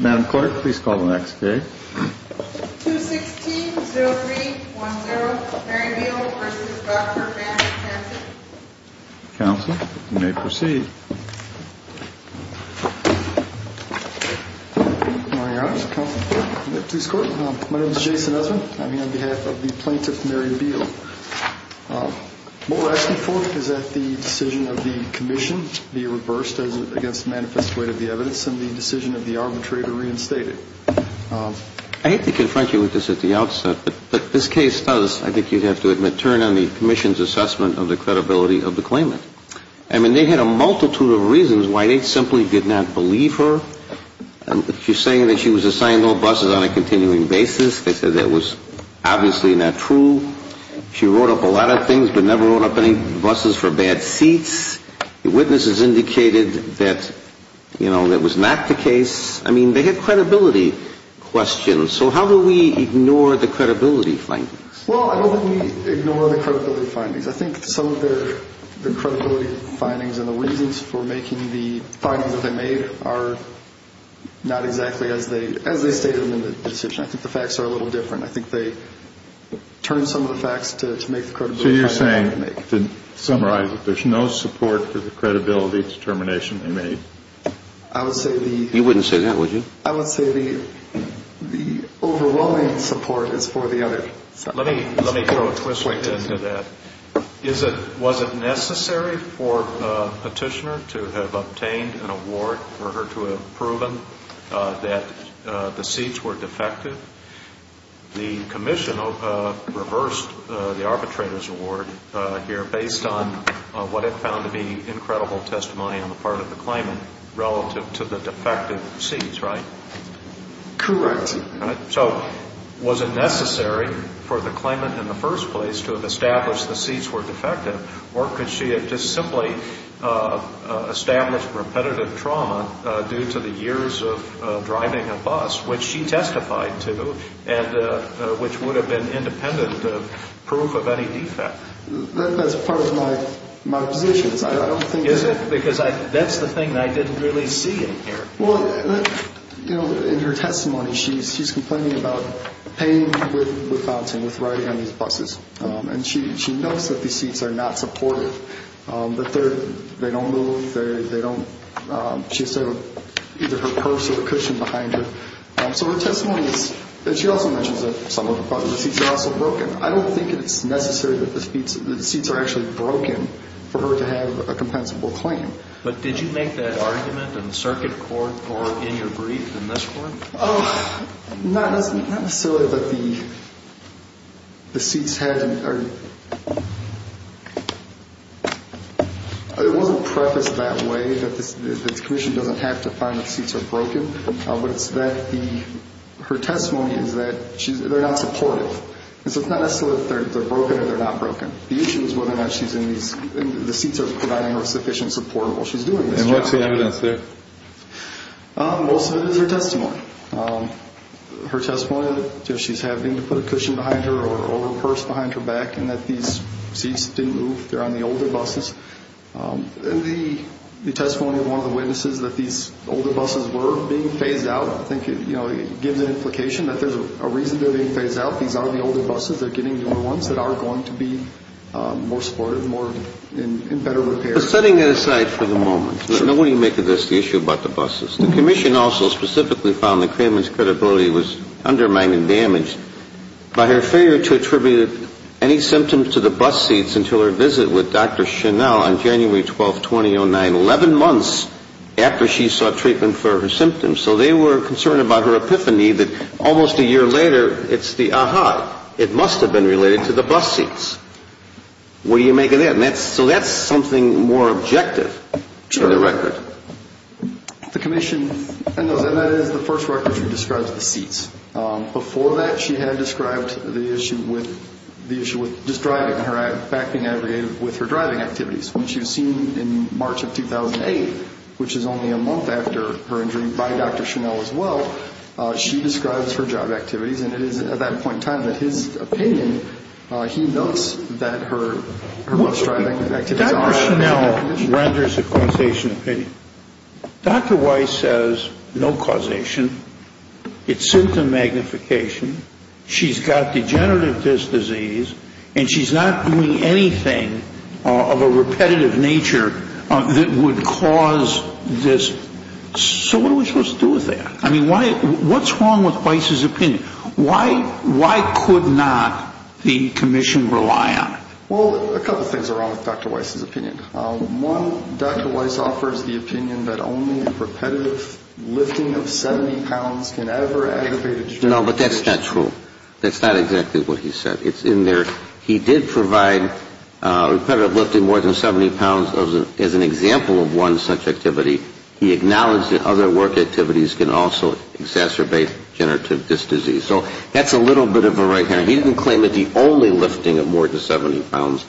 Madam Clerk, please call the next case. 216-0310, Mary Beal v. Dr. Matt Hanson. Counsel, you may proceed. Good morning, Your Honor. This is Counsel from the Justice Court. My name is Jason Usman. I'm here on behalf of the plaintiff, Mary Beal. What we're asking for is that the decision of the Commission be reversed against the manifest weight of the evidence and the decision of the arbitrator reinstated. I hate to confront you with this at the outset, but this case does, I think you'd have to admit, turn on the Commission's assessment of the credibility of the claimant. I mean, they had a multitude of reasons why they simply did not believe her. She's saying that she was assigned no buses on a continuing basis. They said that was obviously not true. She wrote up a lot of things but never wrote up any buses for bad seats. The witnesses indicated that, you know, that was not the case. I mean, they had credibility questions. So how do we ignore the credibility findings? Well, I don't think we ignore the credibility findings. I think some of the credibility findings and the reasons for making the findings that they made are not exactly as they stated in the decision. I think the facts are a little different. So you're saying, to summarize it, there's no support for the credibility determination they made? You wouldn't say that, would you? I would say the overwhelming support is for the other. Let me throw a twist into that. Was it necessary for a petitioner to have obtained an award for her to have proven that the seats were defective? The commission reversed the arbitrator's award here based on what it found to be incredible testimony on the part of the claimant relative to the defective seats, right? Correct. So was it necessary for the claimant in the first place to have established the seats were defective Or could she have just simply established repetitive trauma due to the years of driving a bus, which she testified to, and which would have been independent proof of any defect? That's part of my position. Is it? Because that's the thing I didn't really see in here. Well, in her testimony, she's complaining about pain with bouncing, with riding on these buses. And she notes that these seats are not supportive, that they don't move, they don't. She said either her purse or the cushion behind her. So her testimony is, and she also mentions that some of the seats are also broken. I don't think it's necessary that the seats are actually broken for her to have a compensable claim. But did you make that argument in the circuit court or in your brief in this court? Not necessarily, but the seats had to be. It wasn't prefaced that way, that the commission doesn't have to find the seats are broken. But it's that her testimony is that they're not supportive. So it's not necessarily that they're broken or they're not broken. The issue is whether or not she's in these, the seats are providing her sufficient support while she's doing this job. And what's the evidence there? Most of it is her testimony. Her testimony that she's having to put a cushion behind her or a purse behind her back and that these seats didn't move. They're on the older buses. And the testimony of one of the witnesses that these older buses were being phased out, I think, you know, it gives an implication that there's a reason they're being phased out. These are the older buses. They're getting new ones that are going to be more supportive, more in better repair. Setting that aside for the moment, what do you make of this, the issue about the buses? The commission also specifically found that Kraman's credibility was undermined and damaged by her failure to attribute any symptoms to the bus seats until her visit with Dr. Chanel on January 12, 2009, 11 months after she sought treatment for her symptoms. So they were concerned about her epiphany that almost a year later, it's the aha, it must have been related to the bus seats. What do you make of that? And so that's something more objective to the record. The commission, and that is the first record she describes the seats. Before that, she had described the issue with just driving, her back being aggregated with her driving activities, which you've seen in March of 2008, which is only a month after her injury by Dr. Chanel as well. She describes her job activities, and it is at that point in time that his opinion, he notes that her bus driving activities are out of condition. Dr. Chanel renders a causation opinion. Dr. Weiss says no causation. It's symptom magnification. She's got degenerative disc disease, and she's not doing anything of a repetitive nature that would cause this. So what are we supposed to do with that? I mean, what's wrong with Weiss's opinion? Why could not the commission rely on it? Well, a couple things are wrong with Dr. Weiss's opinion. One, Dr. Weiss offers the opinion that only a repetitive lifting of 70 pounds can ever aggravate a genetic condition. No, but that's not true. That's not exactly what he said. It's in there. He did provide repetitive lifting more than 70 pounds as an example of one such activity. He acknowledged that other work activities can also exacerbate degenerative disc disease. So that's a little bit of a right hander. He didn't claim it the only lifting of more than 70 pounds,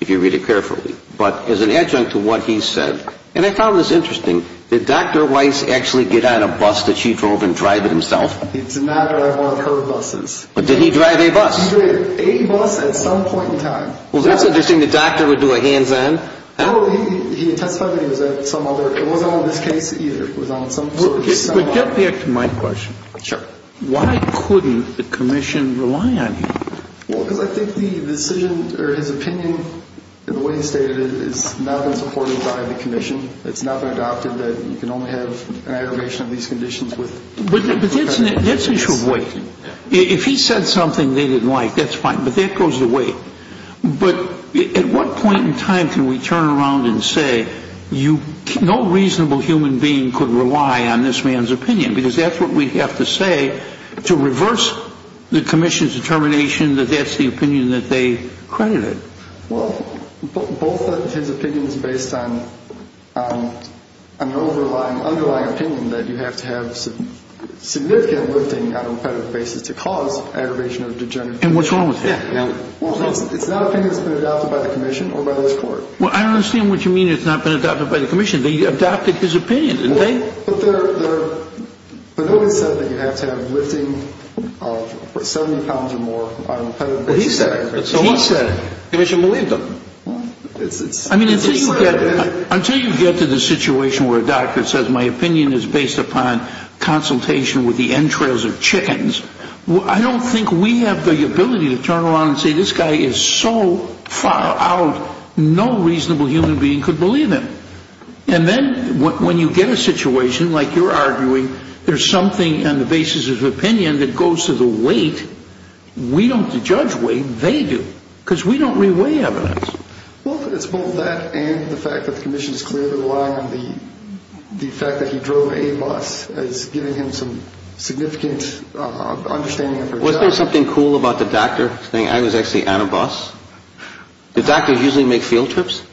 if you read it carefully. But as an adjunct to what he said, and I found this interesting, did Dr. Weiss actually get on a bus that she drove and drive it himself? It's not one of her buses. But did he drive a bus? He drove a bus at some point in time. Well, that's interesting. The doctor would do a hands-on? No, he testified that he was at some other. It wasn't on this case, either. It was on some sort of study. But get back to my question. Sure. Why couldn't the commission rely on him? Well, because I think the decision or his opinion, the way he stated it, has not been supported by the commission. It's not been adopted that you can only have an aggravation of these conditions with repetitive lifting. But that's an issue of weight. If he said something they didn't like, that's fine. But that goes to weight. But at what point in time can we turn around and say, no reasonable human being could rely on this man's opinion? Because that's what we have to say to reverse the commission's determination that that's the opinion that they credited. Well, both his opinions based on an underlying opinion that you have to have significant lifting on a repetitive basis to cause aggravation of degenerative conditions. And what's wrong with that? Well, it's not an opinion that's been adopted by the commission or by this Court. Well, I don't understand what you mean it's not been adopted by the commission. They adopted his opinion, didn't they? But nobody said that you have to have lifting of 70 pounds or more on a repetitive basis. Well, he said it. He said it. The commission believed him. I mean, until you get to the situation where a doctor says, my opinion is based upon consultation with the entrails of chickens, I don't think we have the ability to turn around and say, this guy is so far out no reasonable human being could believe him. And then when you get a situation like you're arguing, there's something on the basis of opinion that goes to the weight, we don't judge weight, they do, because we don't re-weigh evidence. Well, it's both that and the fact that the commission is clearly relying on the fact that he drove a bus as giving him some significant understanding of his health. Wasn't there something cool about the doctor saying I was actually on a bus? Do doctors usually make field trips?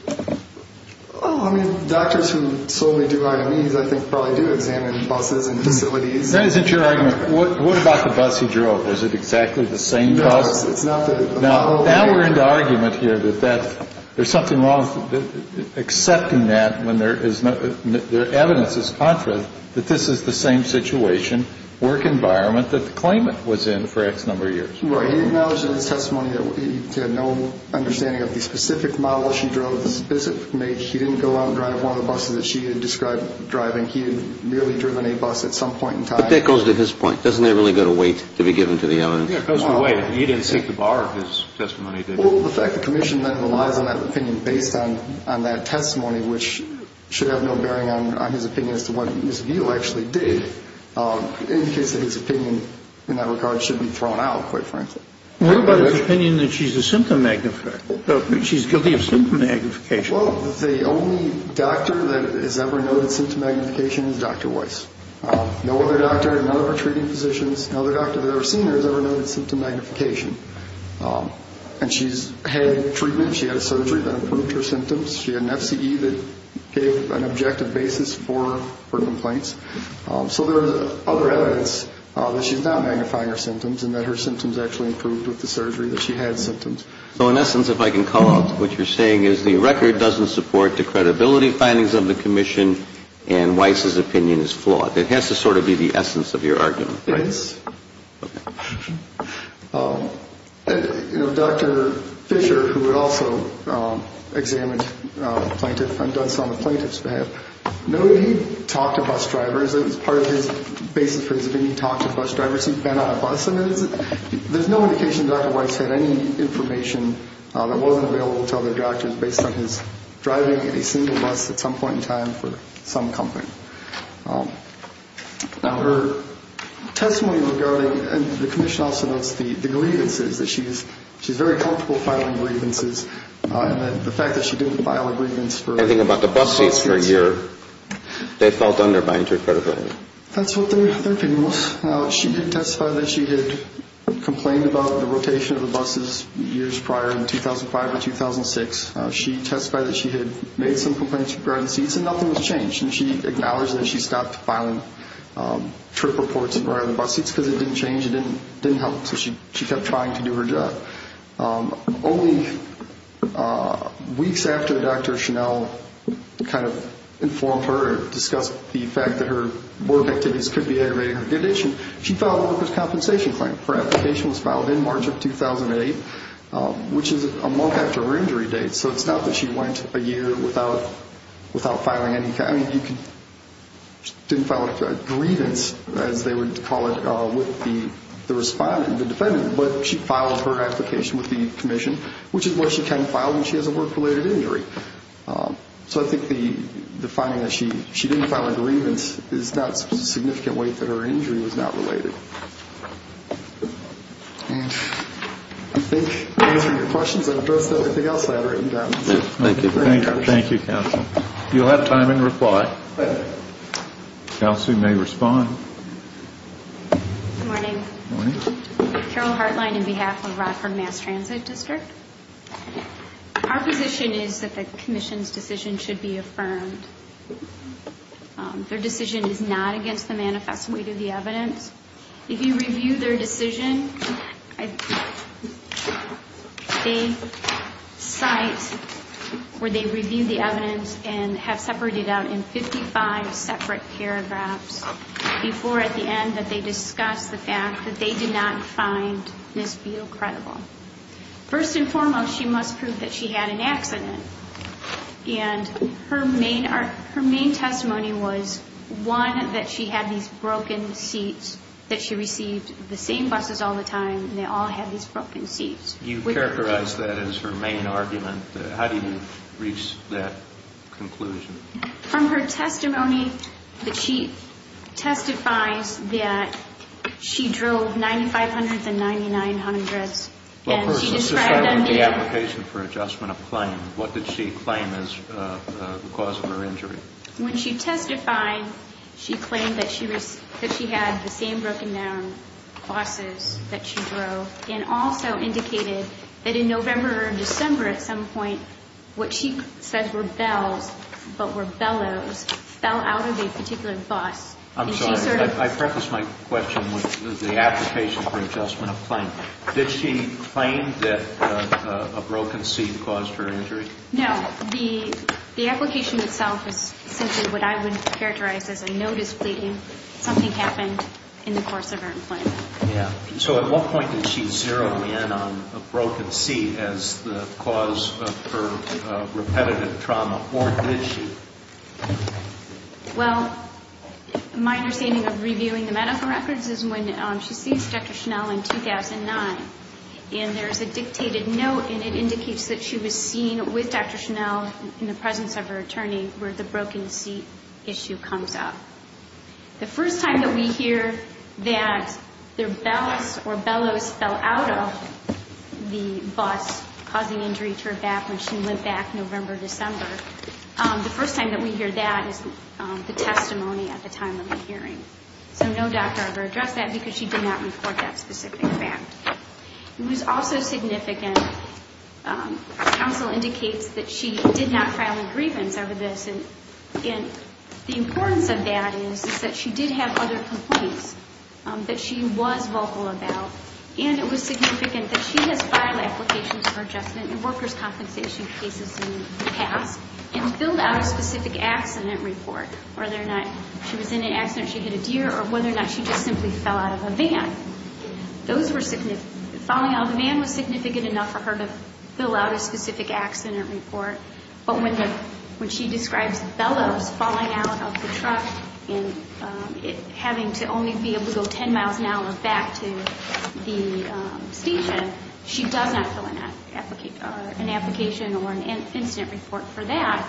Oh, I mean, doctors who solely do IMEs, I think, probably do examine buses and facilities. That isn't your argument. What about the bus he drove? Is it exactly the same bus? No, it's not. Now we're in the argument here that there's something wrong with accepting that when the evidence is contrary, that this is the same situation, work environment that the claimant was in for X number of years. Right. He acknowledged in his testimony that he had no understanding of the specific model she drove, the specific make. He didn't go out and drive one of the buses that she had described driving. He had merely driven a bus at some point in time. But that goes to his point. Doesn't it really go to weight to be given to the evidence? Yeah, it goes to weight. He didn't seek to borrow his testimony, did he? Well, the fact the commission then relies on that opinion based on that testimony, which should have no bearing on his opinion as to what his view actually did, indicates that his opinion in that regard should be thrown out, quite frankly. What about his opinion that she's a symptom magnifier? She's guilty of symptom magnification. Well, the only doctor that has ever noted symptom magnification is Dr. Weiss. No other doctor, none of her treating physicians, no other doctor that has ever seen her has ever noted symptom magnification. And she's had treatment. She had a surgery that improved her symptoms. She had an FCE that gave an objective basis for her complaints. So there's other evidence that she's not magnifying her symptoms and that her symptoms actually improved with the surgery, that she had symptoms. So in essence, if I can call out what you're saying, is the record doesn't support the credibility findings of the commission and Weiss's opinion is flawed. It has to sort of be the essence of your argument. Right. Dr. Fischer, who also examined plaintiffs and done so on the plaintiff's behalf, noted he'd talked to bus drivers. It was part of his basis for his opinion. He talked to bus drivers. He'd been on a bus. And there's no indication that Dr. Weiss had any information that wasn't available to other doctors based on his driving a single bus at some point in time for some company. Now, her testimony regarding, and the commission also notes, the grievances that she's very comfortable filing grievances and that the fact that she didn't file a grievance for a couple of months. Anything about the bus seats for a year, they felt undermined her credibility. That's what their opinion was. She did testify that she had complained about the rotation of the buses years prior in 2005 or 2006. She testified that she had made some complaints regarding seats and nothing was changed. And she acknowledged that she stopped filing trip reports and driving bus seats because it didn't change. It didn't help. So she kept trying to do her job. Only weeks after Dr. Chanel kind of informed her or discussed the fact that her work activities could be aggravating her condition, she filed a workers' compensation claim. Her application was filed in March of 2008, which is a month after her injury date. So it's not that she went a year without filing any kind of grievance, as they would call it, with the defendant, but she filed her application with the commission, which is what she can file when she has a work-related injury. So I think the finding that she didn't file a grievance is not a significant weight that her injury was not related. And I think those are your questions. I've addressed everything else that I've written down. Thank you. Thank you, counsel. You'll have time in reply. Counsel may respond. Good morning. Good morning. Carol Hartline on behalf of Rockford Mass Transit District. Our position is that the commission's decision should be affirmed. Their decision is not against the manifest weight of the evidence. If you review their decision, they cite where they review the evidence and have separated out in 55 separate paragraphs before, at the end, that they discuss the fact that they did not find Ms. Beal credible. First and foremost, she must prove that she had an accident, and her main testimony was, one, that she had these broken seats, that she received the same buses all the time, and they all had these broken seats. You've characterized that as her main argument. How do you reach that conclusion? From her testimony, she testifies that she drove 9,500s and 9,900s. Since I read the application for adjustment of claim, what did she claim as the cause of her injury? When she testified, she claimed that she had the same broken down buses that she drove and also indicated that in November or December at some point, what she said were bells but were bellows fell out of a particular bus. I'm sorry. I prefaced my question with the application for adjustment of claim. Did she claim that a broken seat caused her injury? No. The application itself is simply what I would characterize as a notice pleading something happened in the course of her employment. At what point did she zero in on a broken seat as the cause of her repetitive trauma, or did she? Well, my understanding of reviewing the medical records is when she sees Dr. Schnell in 2009, and there's a dictated note, and it indicates that she was seen with Dr. Schnell in the presence of her attorney where the broken seat issue comes up. The first time that we hear that their bells or bellows fell out of the bus causing injury to her back when she went back in November or December, the first time that we hear that is the testimony at the time of the hearing. So no doctor ever addressed that because she did not report that specific fact. It was also significant, counsel indicates that she did not file a grievance over this, and the importance of that is that she did have other complaints that she was vocal about, and it was significant that she has filed applications for adjustment and workers' compensation cases in the past and filled out a specific accident report, whether or not she was in an accident, she hit a deer, or whether or not she just simply fell out of a van. Those were significant. Falling out of a van was significant enough for her to fill out a specific accident report, but when she describes bellows falling out of the truck and having to only be able to go 10 miles an hour back to the station, she does not fill an application or an incident report for that,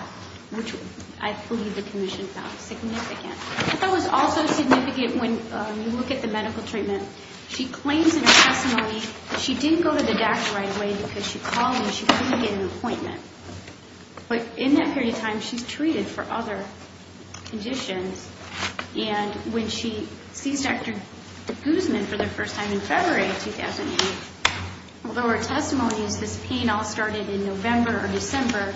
which I believe the commission found significant. I thought it was also significant when you look at the medical treatment. She claims in her testimony that she didn't go to the doctor right away because she called him and she couldn't get an appointment. But in that period of time, she's treated for other conditions, and when she sees Dr. DeGuzman for the first time in February of 2008, although her testimony says pain all started in November or December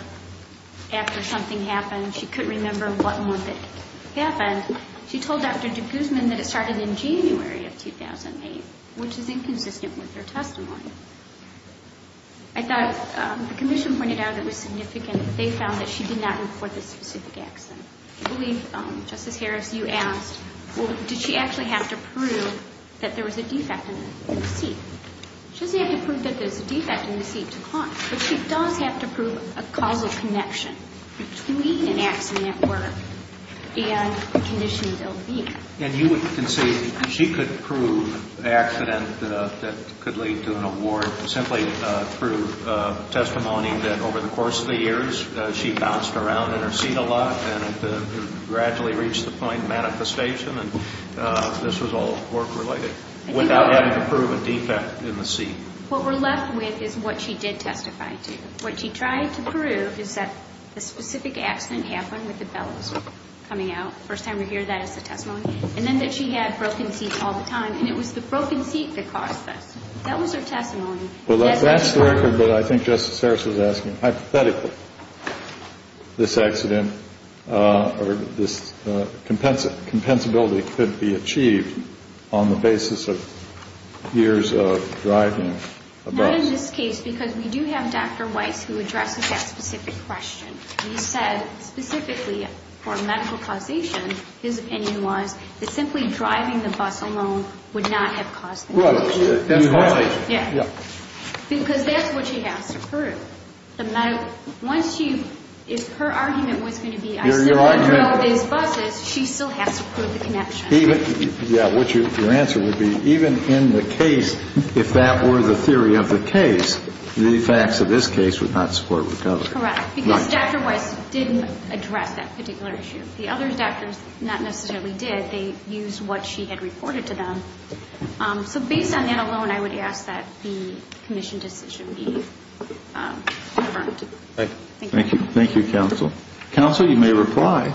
after something happened, she couldn't remember what month it happened, she told Dr. DeGuzman that it started in January of 2008, which is inconsistent with her testimony. I thought the commission pointed out it was significant that they found that she did not report the specific accident. I believe, Justice Harris, you asked, well, did she actually have to prove that there was a defect in the seat? She doesn't have to prove that there's a defect in the seat to call, but she does have to prove a causal connection between an accident or a condition of ill-being. And you would concede she could prove an accident that could lead to an award simply through testimony that over the course of the years, she bounced around in her seat a lot and gradually reached the point of manifestation, and this was all work-related without having to prove a defect in the seat. What we're left with is what she did testify to. What she tried to prove is that a specific accident happened with the bells coming out, first time we hear that as a testimony, and then that she had broken seats all the time, and it was the broken seat that caused this. That was her testimony. Well, that's the record that I think Justice Harris was asking. Hypothetically, this accident or this compensability could be achieved on the basis of years of driving a bus. Not in this case, because we do have Dr. Weiss who addresses that specific question. He said specifically for medical causation, his opinion was that simply driving the bus alone would not have caused the condition. Because that's what she has to prove. Once her argument was going to be I simply drove these buses, she still has to prove the connection. Your answer would be even in the case, if that were the theory of the case, the facts of this case would not support recovery. Correct, because Dr. Weiss didn't address that particular issue. The other doctors not necessarily did. They used what she had reported to them. So based on that alone, I would ask that the commission decision be confirmed. Thank you. Thank you, counsel. Counsel, you may reply.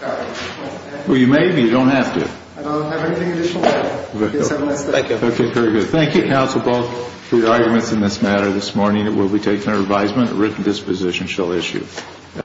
Well, you may, but you don't have to. I don't have anything additional. Thank you. Okay, very good. Thank you, counsel, both for your arguments in this matter. This morning it will be taken under advisement. A written disposition shall issue.